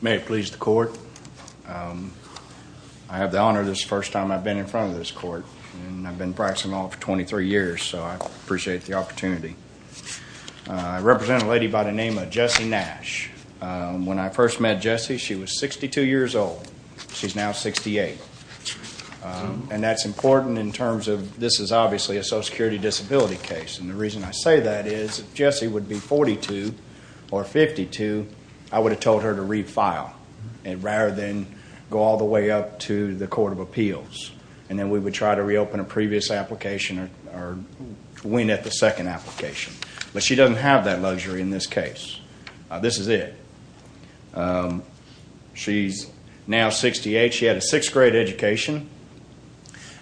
May it please the Court, I have the honor this first time I've been in front of this court and I've been practicing law for 23 years so I appreciate the opportunity. I represent a lady by the name of Jessie Nash. When I first met Jessie she was 62 years old, she's now 68. And that's important in terms of this is obviously a Social Security disability case and the reason I say that is if Jessie would be 42 or 52 I would have told her to refile rather than go all the way up to the Court of Appeals and then we would try to reopen a previous application or win at the second application. But she doesn't have that she had a 6th grade education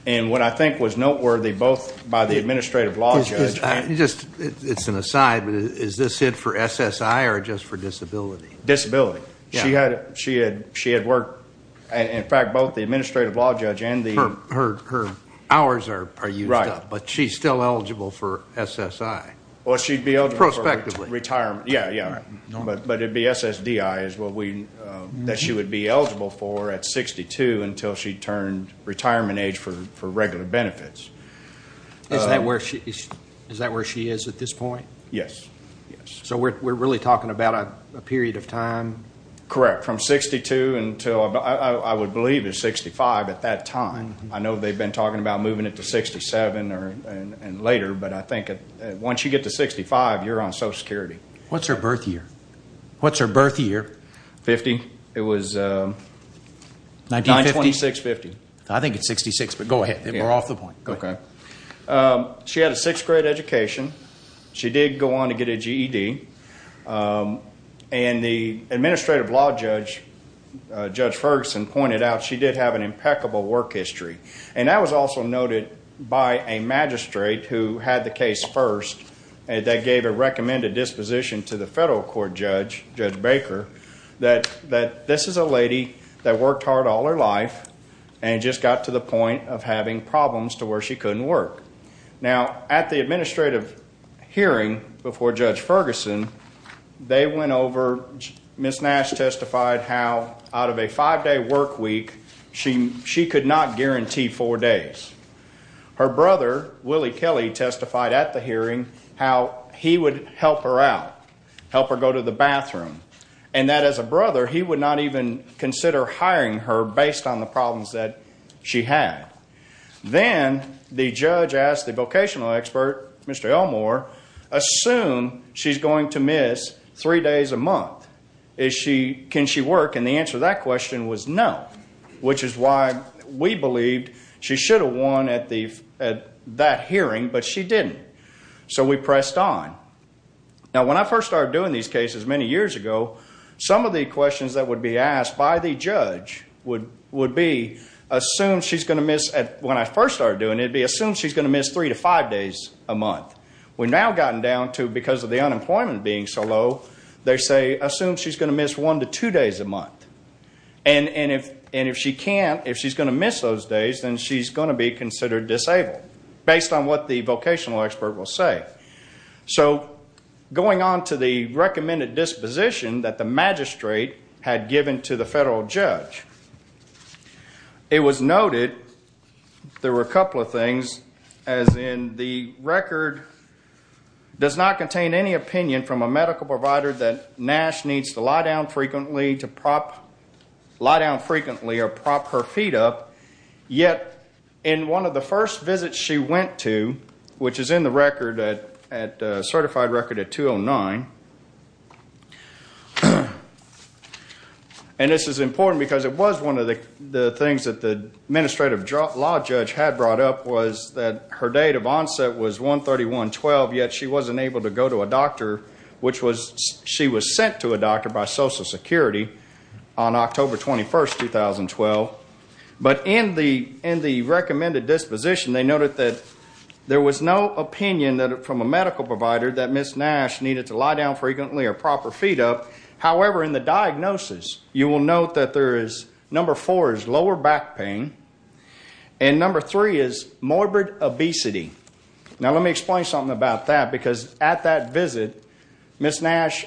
and what I think was noteworthy both by the Administrative Law Judge. It's an aside but is this it for SSI or just for disability? Disability. She had worked in fact both the Administrative Law Judge and the. Her hours are used up but she's still eligible for SSI. Well she'd be eligible. Prospectively. Retirement, yeah. But it'd be SSDI that she would be eligible for at 62 until she turned retirement age for regular benefits. Is that where she is at this point? Yes. So we're really talking about a period of time? Correct. From 62 until I would believe it's 65 at that time. I know they've been talking about moving it to 67 and later but I think once you get to 65 you're on Social Security. What's her birth year? What's her birth year? 50. It was. 1956-50. I think it's 66 but go ahead. We're off the point. Okay. She had a 6th grade education. She did go on to get a GED and the Administrative Law Judge, Judge Ferguson pointed out she did have an impeccable work history and that was also noted by a magistrate who had the recommended disposition to the federal court judge, Judge Baker, that this is a lady that worked hard all her life and just got to the point of having problems to where she couldn't work. Now at the administrative hearing before Judge Ferguson, they went over, Ms. Nash testified how out of a 5-day work week she could not guarantee 4 days. Her brother, Willie Kelly testified at the hearing how he would help her out, help her go to the bathroom and that as a brother he would not even consider hiring her based on the problems that she had. Then the judge asked the vocational expert, Mr. Elmore, assume she's going to miss 3 days a month. Can she work? And the answer to that question was no, which is why we believed she should have won at that hearing, but she didn't. So we pressed on. Now when I first started doing these cases many years ago, some of the questions that would be asked by the judge would be assume she's going to miss, when I first started doing it, assume she's going to miss 3-5 days a month. We've now gotten down to because of the unemployment being so low, they say assume she's going to miss 1-2 days a month. And if she can't, if she's going to miss those days, then she's going to be considered disabled, based on what the vocational expert will say. So going on to the recommended disposition that the magistrate had given to the federal judge, it was noted there were a couple of things as in the record does not contain any opinion from a medical provider that Nash needs to lie down frequently or prop her feet up, yet in one of the first visits she went to, which is in the record, certified record at 209, and this is important because it was one of the things that the administrative law judge had brought up was that her date of onset was 1-31-12, yet she wasn't able to go to a doctor, which was she was sent to a doctor by social security on October 21st, 2012. But in the recommended disposition they noted that there was no opinion from a medical provider that Ms. Nash needed to lie down frequently or prop her feet up, however in the diagnosis you will note that there is number four is lower back pain, and number three is morbid obesity. Now let me explain something about that because at that visit Ms. Nash,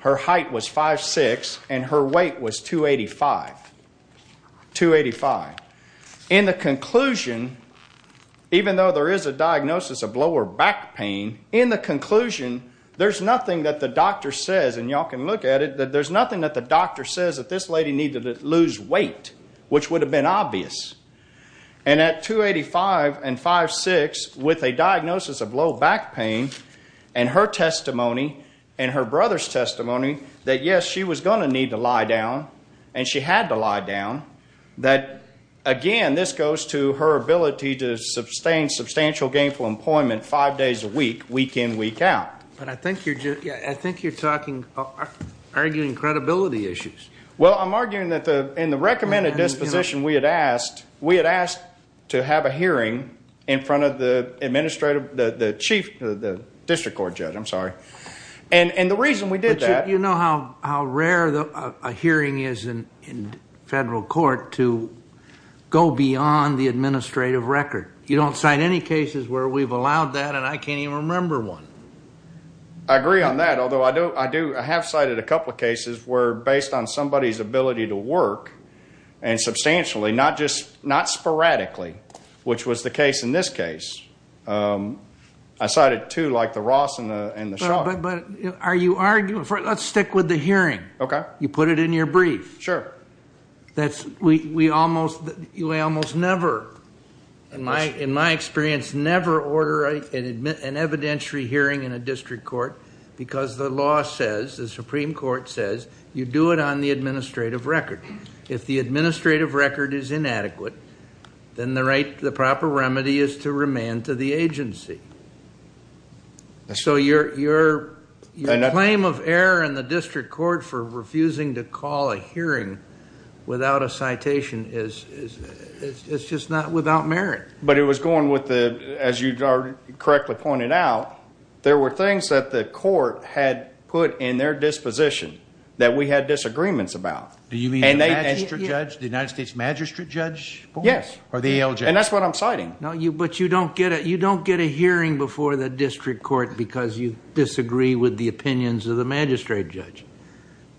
her height was 5'6 and her weight was 2-85, 2-85. In the conclusion, even though there is a diagnosis of lower back pain, in the conclusion there's nothing that the doctor says, and y'all can look at it, there's nothing that the doctor says that this lady needed to lose weight, which would have been obvious. And at 2-85 and 5-6, with a diagnosis of low back pain, and her testimony, and her brother's testimony that yes, she was going to need to lie down, and she had to lie down, that again this goes to her ability to sustain substantial gainful employment five days a week, week in, week out. But I think you're just, I think you're talking, arguing credibility issues. Well I'm arguing that in the recommended disposition we had asked, we had asked to have a hearing in front of the administrative, the chief, the district court judge, I'm sorry. And the reason we did that... But you know how rare a hearing is in federal court to go beyond the administrative record. You don't cite any cases where we've allowed that and I can't even remember one. I agree on that, although I do, I have cited a couple of cases where based on somebody's ability to work, and substantially, not just, not sporadically, which was the case in this case. I cited two, like the Ross and the Shaw. But are you arguing, let's stick with the hearing. You put it in your brief. Sure. That's, we almost, we almost never, in my experience, never order an evidentiary hearing in a district court because the law says, the Supreme Court says, you do it on the administrative record. If the administrative record is inadequate, then the right, the proper remedy is to remand to the agency. So your claim of error in the district court for refusing to call a hearing without a citation is, it's just not without merit. But it was going with the, as you correctly pointed out, there were things that the court had put in their disposition that we had disagreements about. Do you mean the magistrate judge, the United States magistrate judge? Yes. Or the ALJ? And that's what I'm citing. No, but you don't get a hearing before the district court because you disagree with the opinions of the magistrate judge.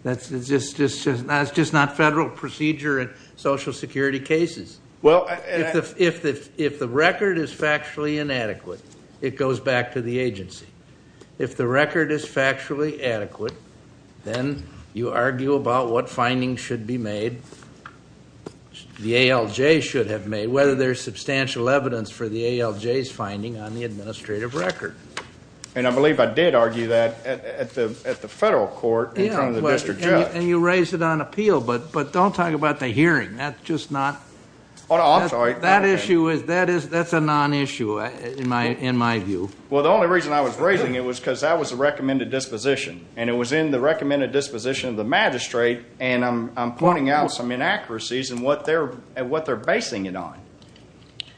That's just not federal procedure in Social Security cases. Well, I... If the record is factually inadequate, it goes back to the agency. If the record is factually adequate, then you argue about what findings should be made, the ALJ should have made, whether there's substantial evidence for the ALJ's finding on the administrative record. And I believe I did argue that at the federal court in front of the district judge. And you raised it on appeal, but don't talk about the hearing. That's just not... Oh, no, I'm sorry. That issue is, that's a non-issue in my view. Well, the only reason I was raising it was because that was the recommended disposition, and it was in the recommended disposition of the magistrate, and I'm pointing out some inaccuracies in what they're basing it on.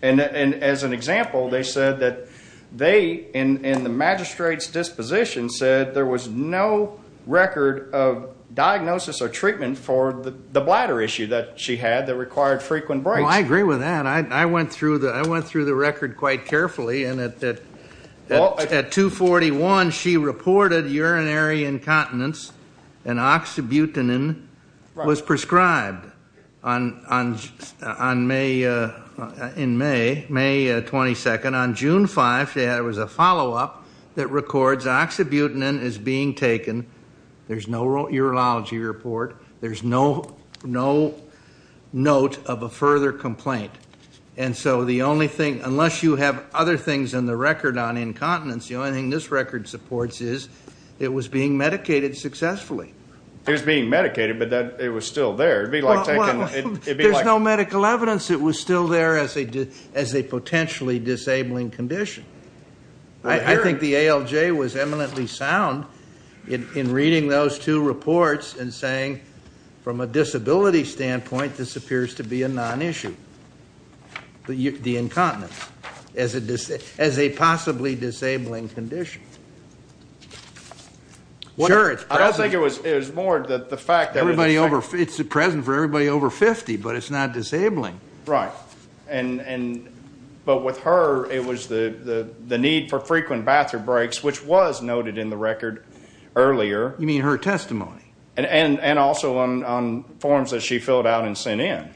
And as an example, they said that they, in the magistrate's disposition, said there was no record of diagnosis or treatment for the bladder issue that she had that required frequent breaks. Well, I agree with that. I went through the record quite carefully, and at 241, she reported urinary incontinence, and oxybutynin was prescribed in May, May 22nd. On June 5, there was a follow-up that records oxybutynin is being taken. There's no urology report. There's no note of a further complaint. And so the only thing, unless you have other things in the record on incontinence, the only thing this record supports is it was being medicated successfully. It was being medicated, but it was still there. It would be like taking... Well, there's no medical evidence it was still there as a potentially disabling condition. I think the ALJ was eminently sound in reading those two reports and saying, from a disability standpoint, this appears to be a non-issue, the incontinence, as a possibly disabling condition. I don't think it was more that the fact that... It's present for everybody over 50, but it's not disabling. Right. But with her, it was the need for frequent bathroom breaks, which was noted in the record earlier. You mean her testimony? And also on forms that she filled out and sent in.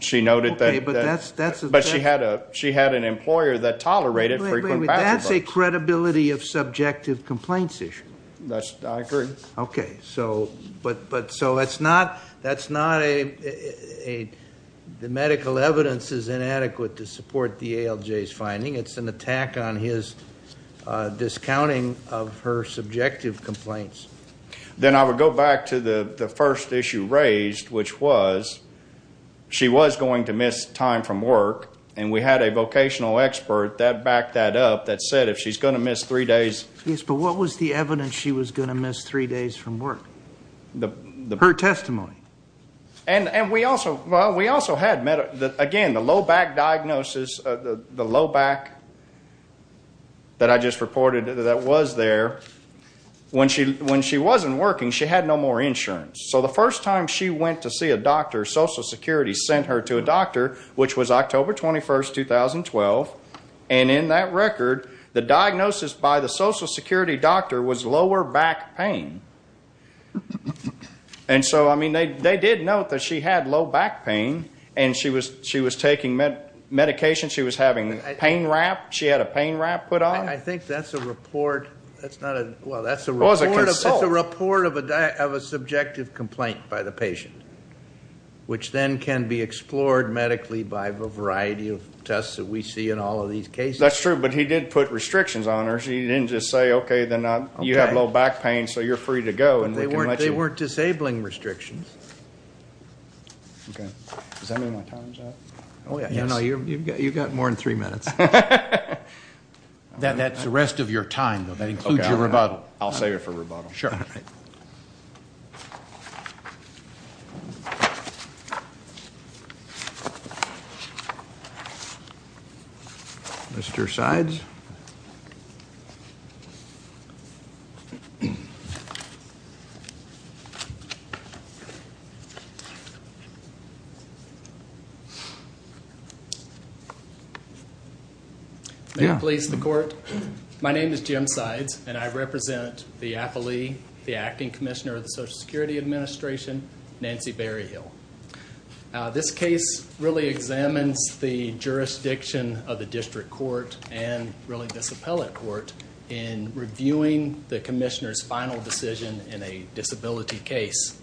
She noted that... Okay, but that's... But she had an employer that tolerated frequent bathroom breaks. Wait, wait, wait. That's a credibility of subjective complaints issue. I agree. Okay, so that's not a... The medical evidence is inadequate to support the ALJ's finding. It's an attack on his discounting of her subjective complaints. Then I would go back to the first issue raised, which was, she was going to miss time from work and we had a vocational expert that backed that up that said if she's going to miss three days... Yes, but what was the evidence she was going to miss three days from work? Her testimony. And we also had... Again, the low back diagnosis, the low back that I just reported that was there, when she wasn't working, she had no more insurance. So the first time she went to see a doctor, Social Security sent her to a doctor, which was October 21st, 2012, and in that record, the diagnosis by the Social Security doctor was lower back pain. And so, I mean, they did note that she had low back pain and she was taking medication, she was having pain wrap, she had a pain wrap put on. I think that's a report, that's not a... Well, that's a report of a subjective complaint by the patient, which then can be explored medically by a variety of tests that we see in all of these cases. That's true, but he did put restrictions on her, so he didn't just say, okay, then you have low back pain so you're free to go and we can let you... They weren't disabling restrictions. Okay. Does that mean my time's up? Oh, yeah. No, no, you've got more than three minutes. That's the rest of your time, though. That includes your rebuttal. I'll save it for rebuttal. Sure. Mr. Sides. May it please the court. My name is Jim Sides and I represent the appellee, the acting commissioner of the Social Security Administration, Nancy Berryhill. This case really examines the jurisdiction of the district court and really this appellate court in reviewing the commissioner's final decision in a disability case.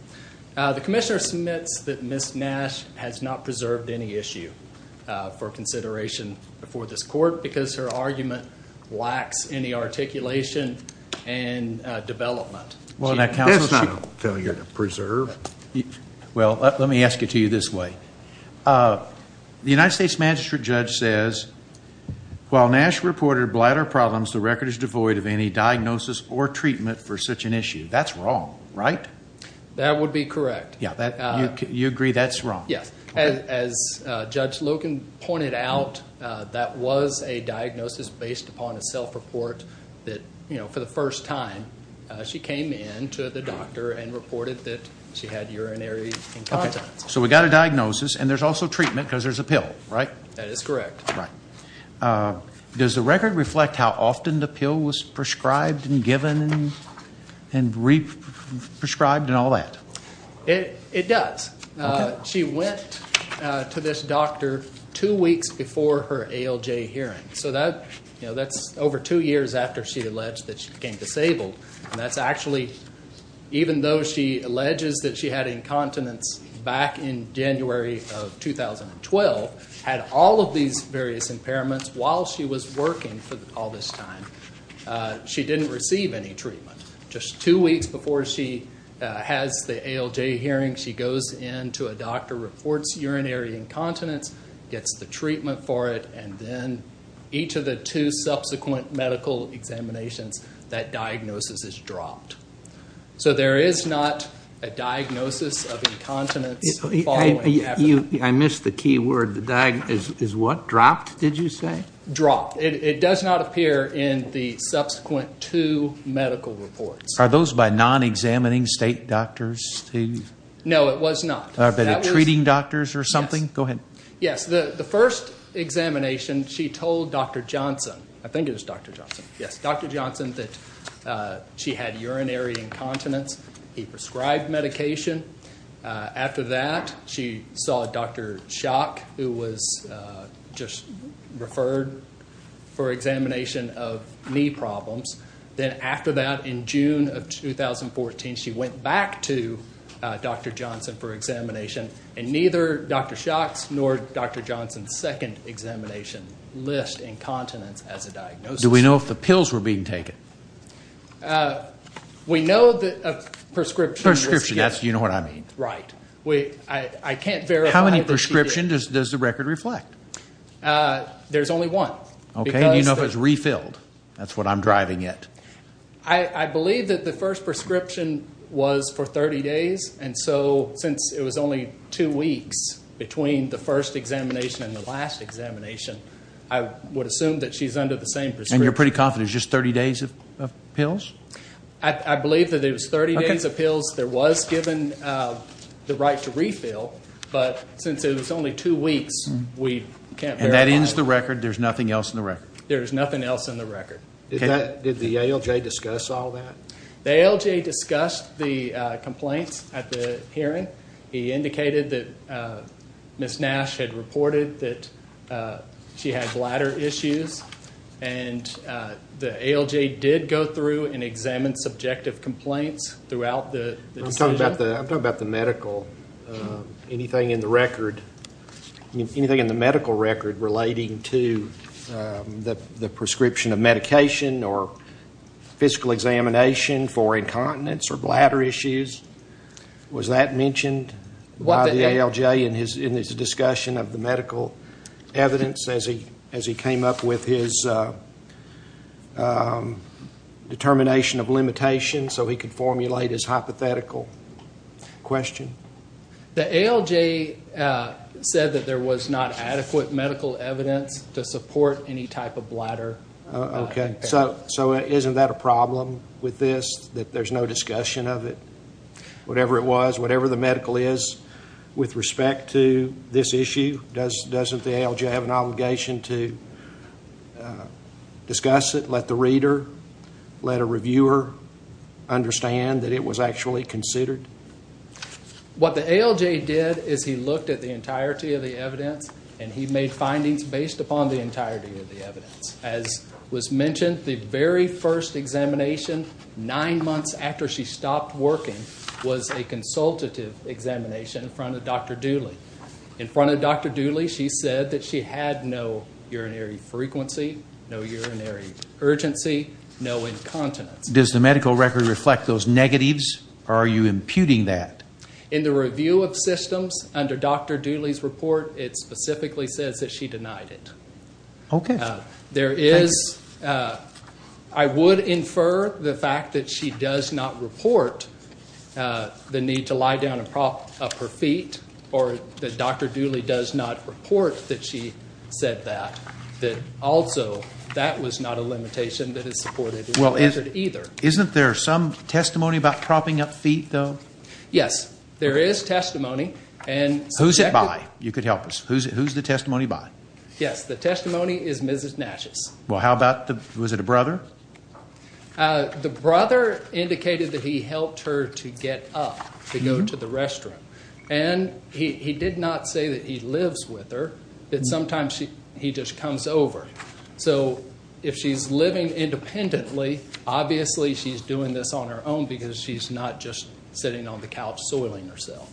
The commissioner submits that Ms. Nash has not preserved any issue for consideration before this court because her argument lacks any articulation and development. That's not a failure to preserve. Well, let me ask it to you this way. The United States magistrate judge says, while Nash reported bladder problems, the record is devoid of any diagnosis or treatment for such an issue. That's wrong, right? That would be correct. Yeah, you agree that's wrong? Yes. As Judge Logan pointed out, that was a diagnosis based upon a self-report that for the first time she came in to the doctor and reported that she had urinary incontinence. So we got a diagnosis and there's also treatment because there's a pill, right? That is correct. Does the record reflect how often the pill was prescribed and given and re-prescribed and all that? It does. She went to this doctor two weeks before her ALJ hearing, so that's over two years after she alleged that she became disabled. Even though she alleges that she had incontinence back in January of 2012, had all of these various impairments while she was working for all this time, she didn't receive any treatment. Just two weeks before she has the ALJ hearing, she goes in to a doctor, reports urinary incontinence, gets the treatment for it, and then each of the two subsequent medical examinations, that diagnosis is dropped. So there is not a diagnosis of incontinence following after that. I missed the key word. Is what dropped, did you say? Dropped. It does not appear in the subsequent two medical reports. Are those by non-examining state doctors? No, it was not. Are they treating doctors or something? Go ahead. Yes, the first examination, she told Dr. Johnson, I think it was Dr. Johnson, yes, Dr. Johnson that she had urinary incontinence. He prescribed medication. After that, she saw Dr. Schock, who was just referred for examination of knee problems. Then after that, in June of 2014, she went back to Dr. Johnson for examination, and neither Dr. Schock's nor Dr. Johnson's second examination list incontinence as a diagnosis. Do we know if the pills were being taken? We know that a prescription was given. Prescription, that's, you know what I mean. Right. I can't verify that she did. How many prescriptions does the record reflect? There's only one. Okay. Do you know if it's refilled? That's what I'm driving at. I believe that the first prescription was for 30 days, and so since it was only two weeks between the first examination and the last examination, I would assume that she's under the same prescription. And you're pretty confident it's just 30 days of pills? I believe that it was 30 days of pills. There was given the right to refill, but since it was only two weeks, we can't verify. That ends the record? There's nothing else in the record? There's nothing else in the record. Did the ALJ discuss all that? The ALJ discussed the complaints at the hearing. He indicated that Ms. Nash had reported that she had bladder issues, and the ALJ did go through and examine subjective complaints throughout the decision. I'm talking about the medical. Anything in the medical record relating to the prescription of medication or physical examination for incontinence or bladder issues, was that mentioned by the ALJ in his discussion of the medical evidence as he came up with his determination of limitations so he could The ALJ said that there was not adequate medical evidence to support any type of bladder impairment. So isn't that a problem with this, that there's no discussion of it? Whatever it was, whatever the medical is, with respect to this issue, doesn't the ALJ have an obligation to discuss it, let the reader, let a reviewer understand that it was actually considered? What the ALJ did is he looked at the entirety of the evidence, and he made findings based upon the entirety of the evidence. As was mentioned, the very first examination, nine months after she stopped working, was a consultative examination in front of Dr. Dooley. In front of Dr. Dooley, she said that she had no urinary frequency, no urinary urgency, no incontinence. Does the medical record reflect those negatives? Or are you imputing that? In the review of systems, under Dr. Dooley's report, it specifically says that she denied it. Okay. There is, I would infer the fact that she does not report the need to lie down and prop up her feet, or that Dr. Dooley does not report that she said that, that also that was not a limitation that is supported either. Isn't there some testimony about propping up feet, though? Yes, there is testimony. Who's it by? You could help us. Who's the testimony by? Yes, the testimony is Mrs. Natchez. Well, how about, was it a brother? The brother indicated that he helped her to get up to go to the restroom. And he did not say that he lives with her, that sometimes he just comes over. So if she's living independently, obviously she's doing this on her own because she's not just sitting on the couch soiling herself.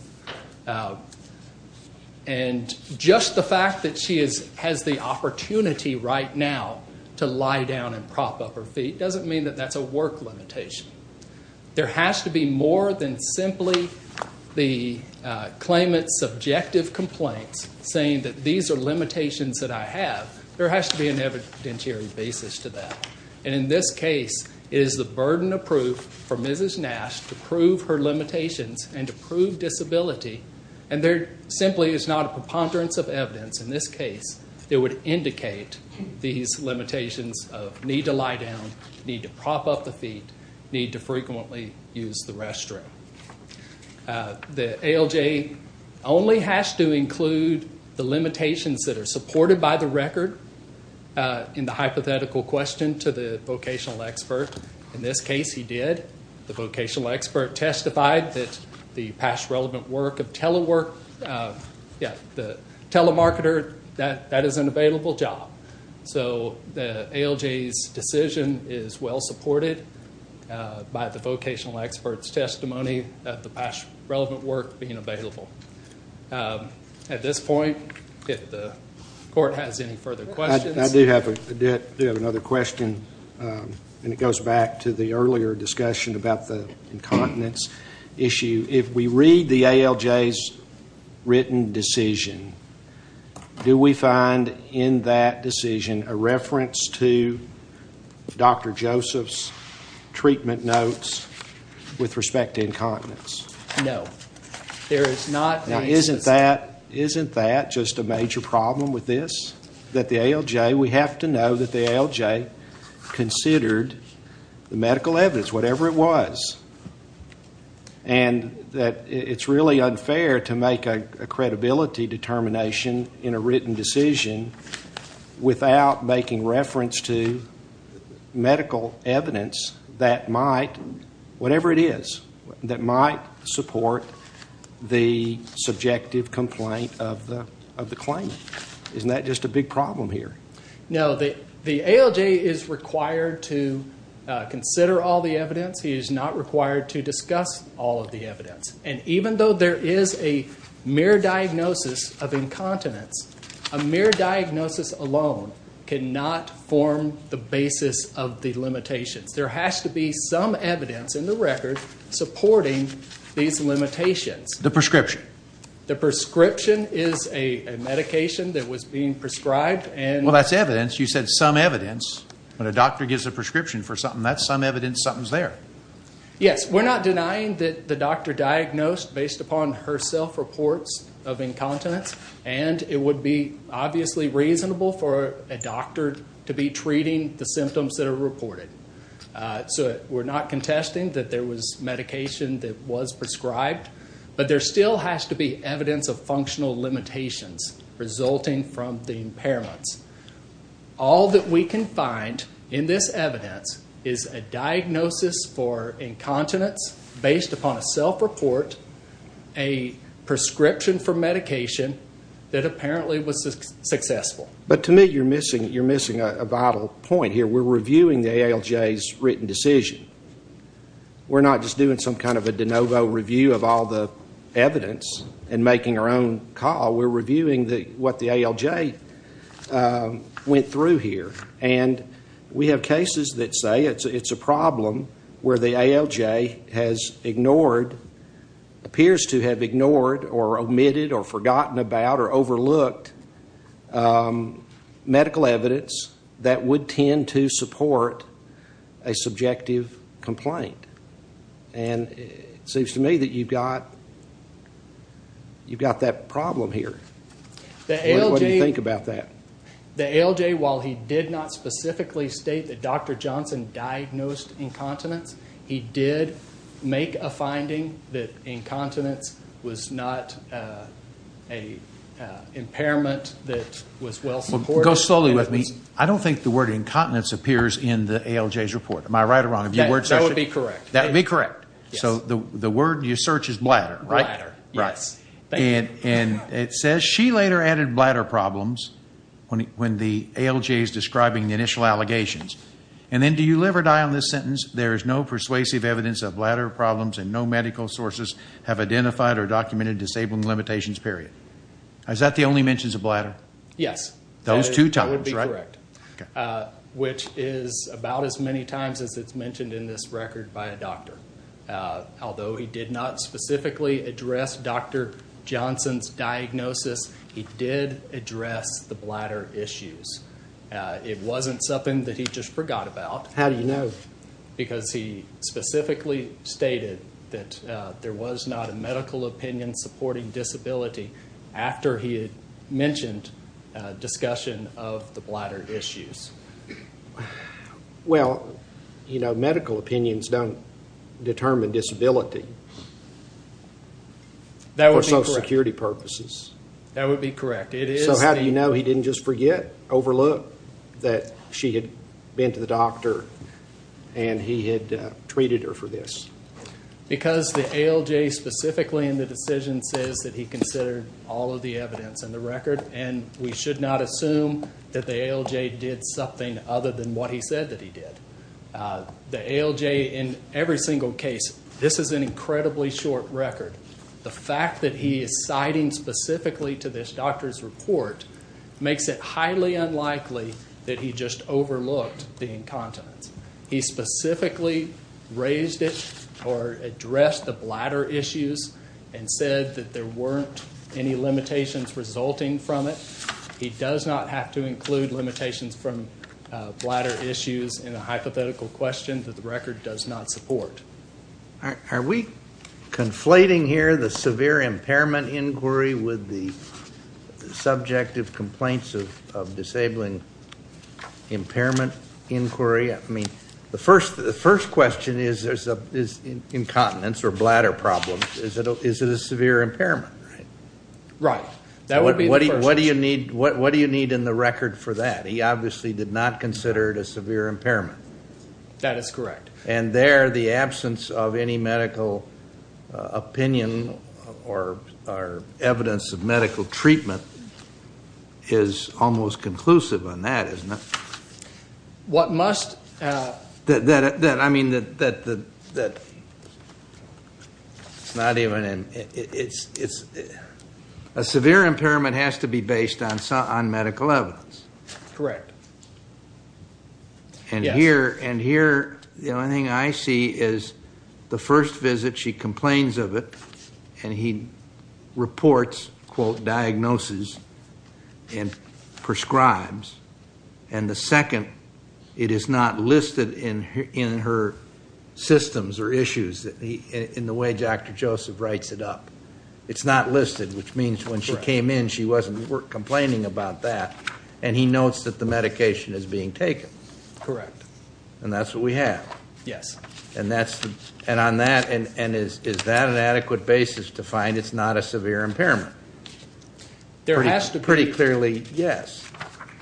And just the fact that she has the opportunity right now to lie down and prop up her feet doesn't mean that that's a work limitation. There has to be more than simply the claimant's subjective complaints saying that these are limitations that I have. There has to be an evidentiary basis to that. And in this case, it is the burden of proof for Mrs. Natchez to prove her limitations and to prove disability. And there simply is not a preponderance of evidence in this case that would indicate these limitations of need to lie down, need to prop up the feet, need to frequently use the restroom. The ALJ only has to include the limitations that are supported by the record in the hypothetical question to the vocational expert. In this case, he did. The vocational expert testified that the past relevant work of telework, yeah, the telemarketer, that is an available job. So the ALJ's decision is well-supported by the vocational expert's testimony that the past relevant work being available. At this point, if the court has any further questions. I do have another question, and it goes back to the earlier discussion about the incontinence issue. If we read the ALJ's written decision, do we find in that decision a reference to Dr. Joseph's treatment notes with respect to incontinence? No. There is not a specific... Now, isn't that just a major problem with this? That the ALJ, we have to know that the ALJ considered the medical evidence, whatever it was. And that it's really unfair to make a credibility determination in a written decision without making reference to medical evidence that might, whatever it is, that might support the subjective complaint of the claimant. Isn't that just a big problem here? No. The ALJ is required to consider all the evidence. He is not required to discuss all of the evidence. And even though there is a mere diagnosis of incontinence, a mere diagnosis alone cannot form the basis of the limitations. There has to be some evidence in the record supporting these limitations. The prescription. The prescription is a medication that was being prescribed and... Well, that's evidence. You said some evidence. When a doctor gives a prescription for something, that's some evidence something's there. Yes. We're not denying that the doctor diagnosed based upon her self-reports of incontinence. And it would be obviously reasonable for a doctor to be treating the symptoms that are reported. So, we're not contesting that there was medication that was prescribed. But there still has to be evidence of functional limitations resulting from the impairments. All that we can find in this evidence is a diagnosis for incontinence based upon a self-report, a prescription for medication that apparently was successful. But to me, you're missing a vital point here. We're reviewing the ALJ's written decision. We're not just doing some kind of a de novo review of all the evidence and making our own call. We're reviewing what the ALJ went through here. And we have cases that say it's a problem where the ALJ has ignored, appears to have ignored or omitted or forgotten about or overlooked medical evidence that would tend to support a subjective complaint. And it seems to me that you've got that problem here. What do you think about that? The ALJ, while he did not specifically state that Dr. Johnson diagnosed incontinence, he did make a finding that incontinence was not an impairment that was well supported. Go slowly with me. I don't think the word incontinence appears in the ALJ's report. Am I right or wrong? That would be correct. That would be correct. So the word you search is bladder, right? Bladder, yes. And it says she later added bladder problems when the ALJ is describing the initial allegations. And then do you live or die on this sentence? There is no persuasive evidence of bladder problems and no medical sources have identified or documented disabling limitations, period. Is that the only mentions of bladder? Yes. Those two times, right? That would be correct. Which is about as many times as it's mentioned in this record by a doctor. Although he did not specifically address Dr. Johnson's diagnosis, he did address the bladder issues. It wasn't something that he just forgot about. How do you know? Because he specifically stated that there was not a medical opinion supporting disability after he had mentioned discussion of the bladder issues. Well, you know, medical opinions don't determine disability. That would be correct. For social security purposes. That would be correct. So how do you know he didn't just forget, overlook that she had been to the doctor and he had treated her for this? Because the ALJ specifically in the decision says that he considered all of the evidence in the record and we should not assume that the ALJ did something other than what he said that he did. The ALJ in every single case, this is an incredibly short record. The fact that he is citing specifically to this doctor's report makes it highly unlikely that he just overlooked the incontinence. He specifically raised it or addressed the bladder issues and said that there weren't any limitations resulting from it. He does not have to include limitations from bladder issues in a hypothetical question that the record does not support. Are we conflating here the severe impairment inquiry with the subjective complaints of disabling impairment inquiry? I mean, the first question is incontinence or bladder problems. Is it a severe impairment? Right. What do you need in the record for that? He obviously did not consider it a severe impairment. That is correct. And there the absence of any medical opinion or evidence of medical treatment is almost conclusive on that, isn't it? What must? I mean, that it's not even in. A severe impairment has to be based on medical evidence. Correct. And here the only thing I see is the first visit she complains of it and he reports, quote, diagnosis and prescribes. And the second, it is not listed in her systems or issues in the way Dr. Joseph writes it up. It's not listed, which means when she came in she wasn't complaining about that. And he notes that the medication is being taken. Correct. And that's what we have. Yes. And on that, is that an adequate basis to find it's not a severe impairment? There has to be. Pretty clearly, yes.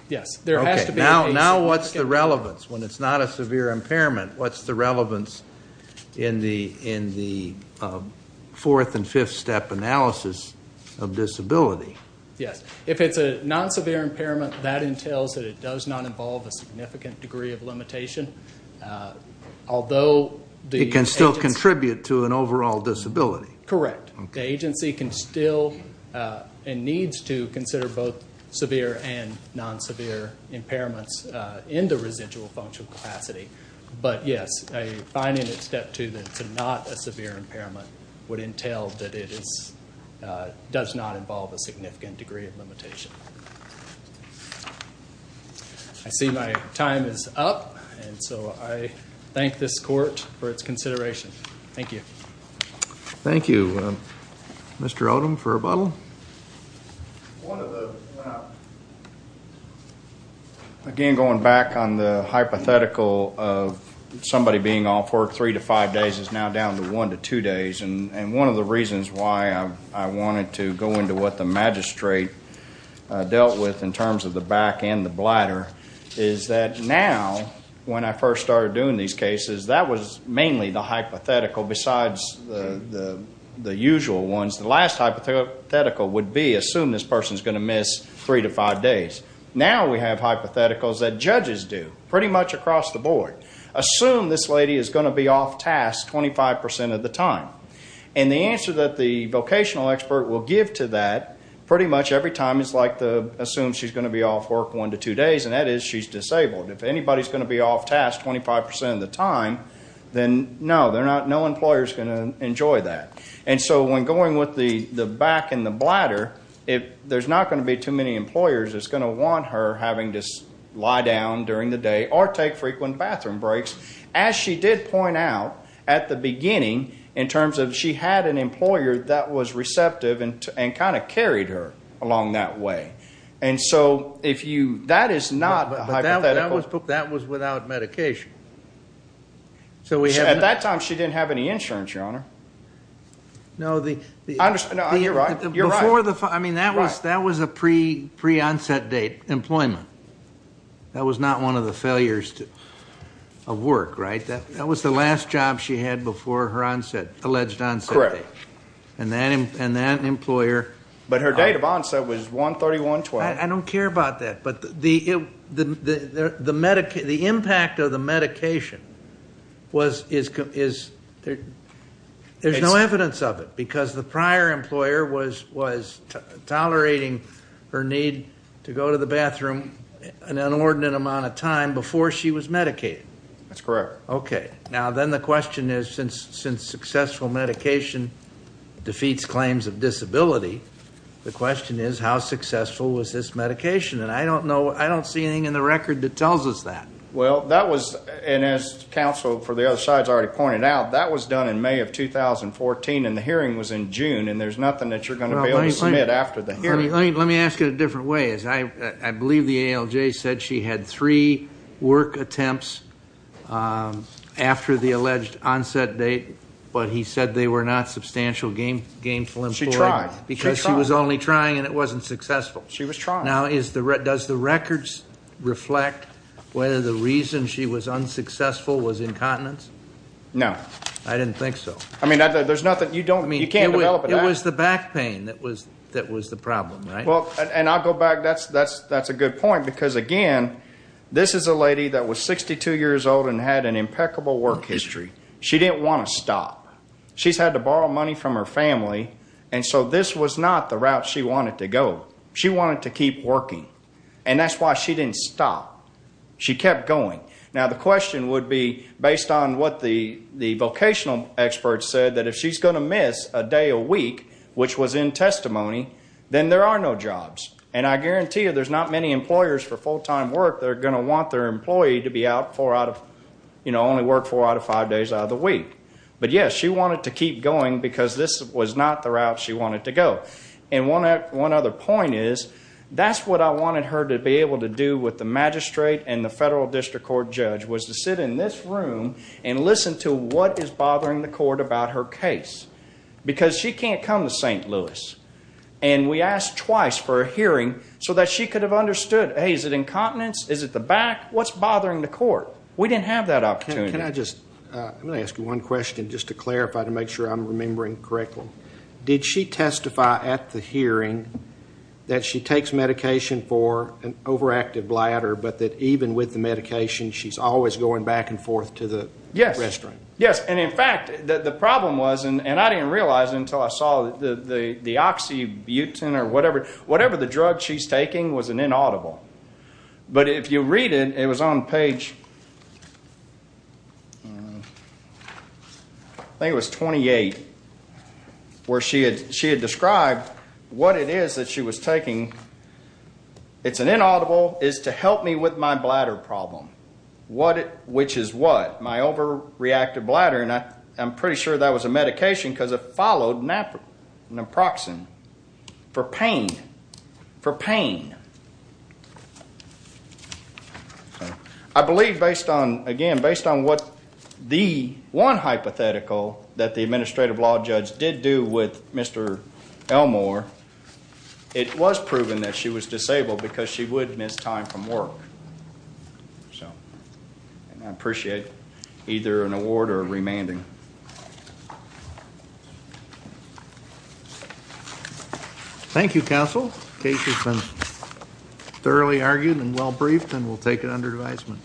Yes, there has to be. Now what's the relevance? When it's not a severe impairment, what's the relevance in the fourth and fifth step analysis of disability? Yes. If it's a non-severe impairment, that entails that it does not involve a significant degree of limitation. Although the agency. It can still contribute to an overall disability. Correct. The agency can still and needs to consider both severe and non-severe impairments in the residual functional capacity. But, yes, finding at step two that it's not a severe impairment would entail that it does not involve a significant degree of limitation. I see my time is up. And so I thank this court for its consideration. Thank you. Thank you. Mr. Odom for rebuttal. Again, going back on the hypothetical of somebody being off work three to five days is now down to one to two days. And one of the reasons why I wanted to go into what the magistrate dealt with in terms of the back and the bladder is that now, when I first started doing these cases, that was mainly the hypothetical besides the usual ones. The last hypothetical would be assume this person is going to miss three to five days. Now we have hypotheticals that judges do pretty much across the board. Assume this lady is going to be off task 25% of the time. And the answer that the vocational expert will give to that pretty much every time is like assume she's going to be off work one to two days, and that is she's disabled. If anybody is going to be off task 25% of the time, then no, no employer is going to enjoy that. And so when going with the back and the bladder, there's not going to be too many employers that's going to want her having to lie down during the day or take frequent bathroom breaks. As she did point out at the beginning in terms of she had an employer that was receptive and kind of carried her along that way. And so that is not a hypothetical. But that was without medication. At that time she didn't have any insurance, Your Honor. No, you're right. I mean, that was a pre-onset date employment. That was not one of the failures of work, right? That was the last job she had before her alleged onset date. Correct. And that employer. But her date of onset was 1-31-12. I don't care about that. But the impact of the medication is there's no evidence of it because the prior employer was tolerating her need to go to the bathroom an inordinate amount of time before she was medicated. That's correct. Okay. Now then the question is since successful medication defeats claims of disability, the question is how successful was this medication? And I don't see anything in the record that tells us that. Well, that was, and as counsel for the other side has already pointed out, that was done in May of 2014 and the hearing was in June and there's nothing that you're going to be able to submit after the hearing. Let me ask it a different way. I believe the ALJ said she had three work attempts after the alleged onset date, but he said they were not substantial gainful employment. She tried. She was only trying and it wasn't successful. She was trying. Now does the record reflect whether the reason she was unsuccessful was incontinence? No. I didn't think so. I mean, there's nothing. You can't develop it out. It was the back pain that was the problem, right? Well, and I'll go back. That's a good point because, again, this is a lady that was 62 years old and had an impeccable work history. She didn't want to stop. She's had to borrow money from her family, and so this was not the route she wanted to go. She wanted to keep working, and that's why she didn't stop. She kept going. Now the question would be, based on what the vocational experts said, that if she's going to miss a day a week, which was in testimony, then there are no jobs. And I guarantee you there's not many employers for full-time work that are going to want their employee to only work four out of five days out of the week. But, yes, she wanted to keep going because this was not the route she wanted to go. And one other point is that's what I wanted her to be able to do with the magistrate and the federal district court judge was to sit in this room and listen to what is bothering the court about her case because she can't come to St. Louis. And we asked twice for a hearing so that she could have understood, hey, is it incontinence? Is it the back? What's bothering the court? We didn't have that opportunity. Can I just ask you one question just to clarify to make sure I'm remembering correctly? Did she testify at the hearing that she takes medication for an overactive bladder but that even with the medication she's always going back and forth to the restroom? Yes. And, in fact, the problem was, and I didn't realize it until I saw it, the oxybutyn or whatever the drug she's taking was inaudible. But if you read it, it was on page, I think it was 28, where she had described what it is that she was taking. It's inaudible. It's to help me with my bladder problem. Which is what? My overreactive bladder. And I'm pretty sure that was a medication because it followed naproxen for pain. I believe, again, based on what the one hypothetical that the administrative law judge did do with Mr. Elmore, it was proven that she was disabled because she would miss time from work. So I appreciate either an award or a remanding. Thank you, counsel. The case has been thoroughly argued and well briefed, and we'll take it under advisement.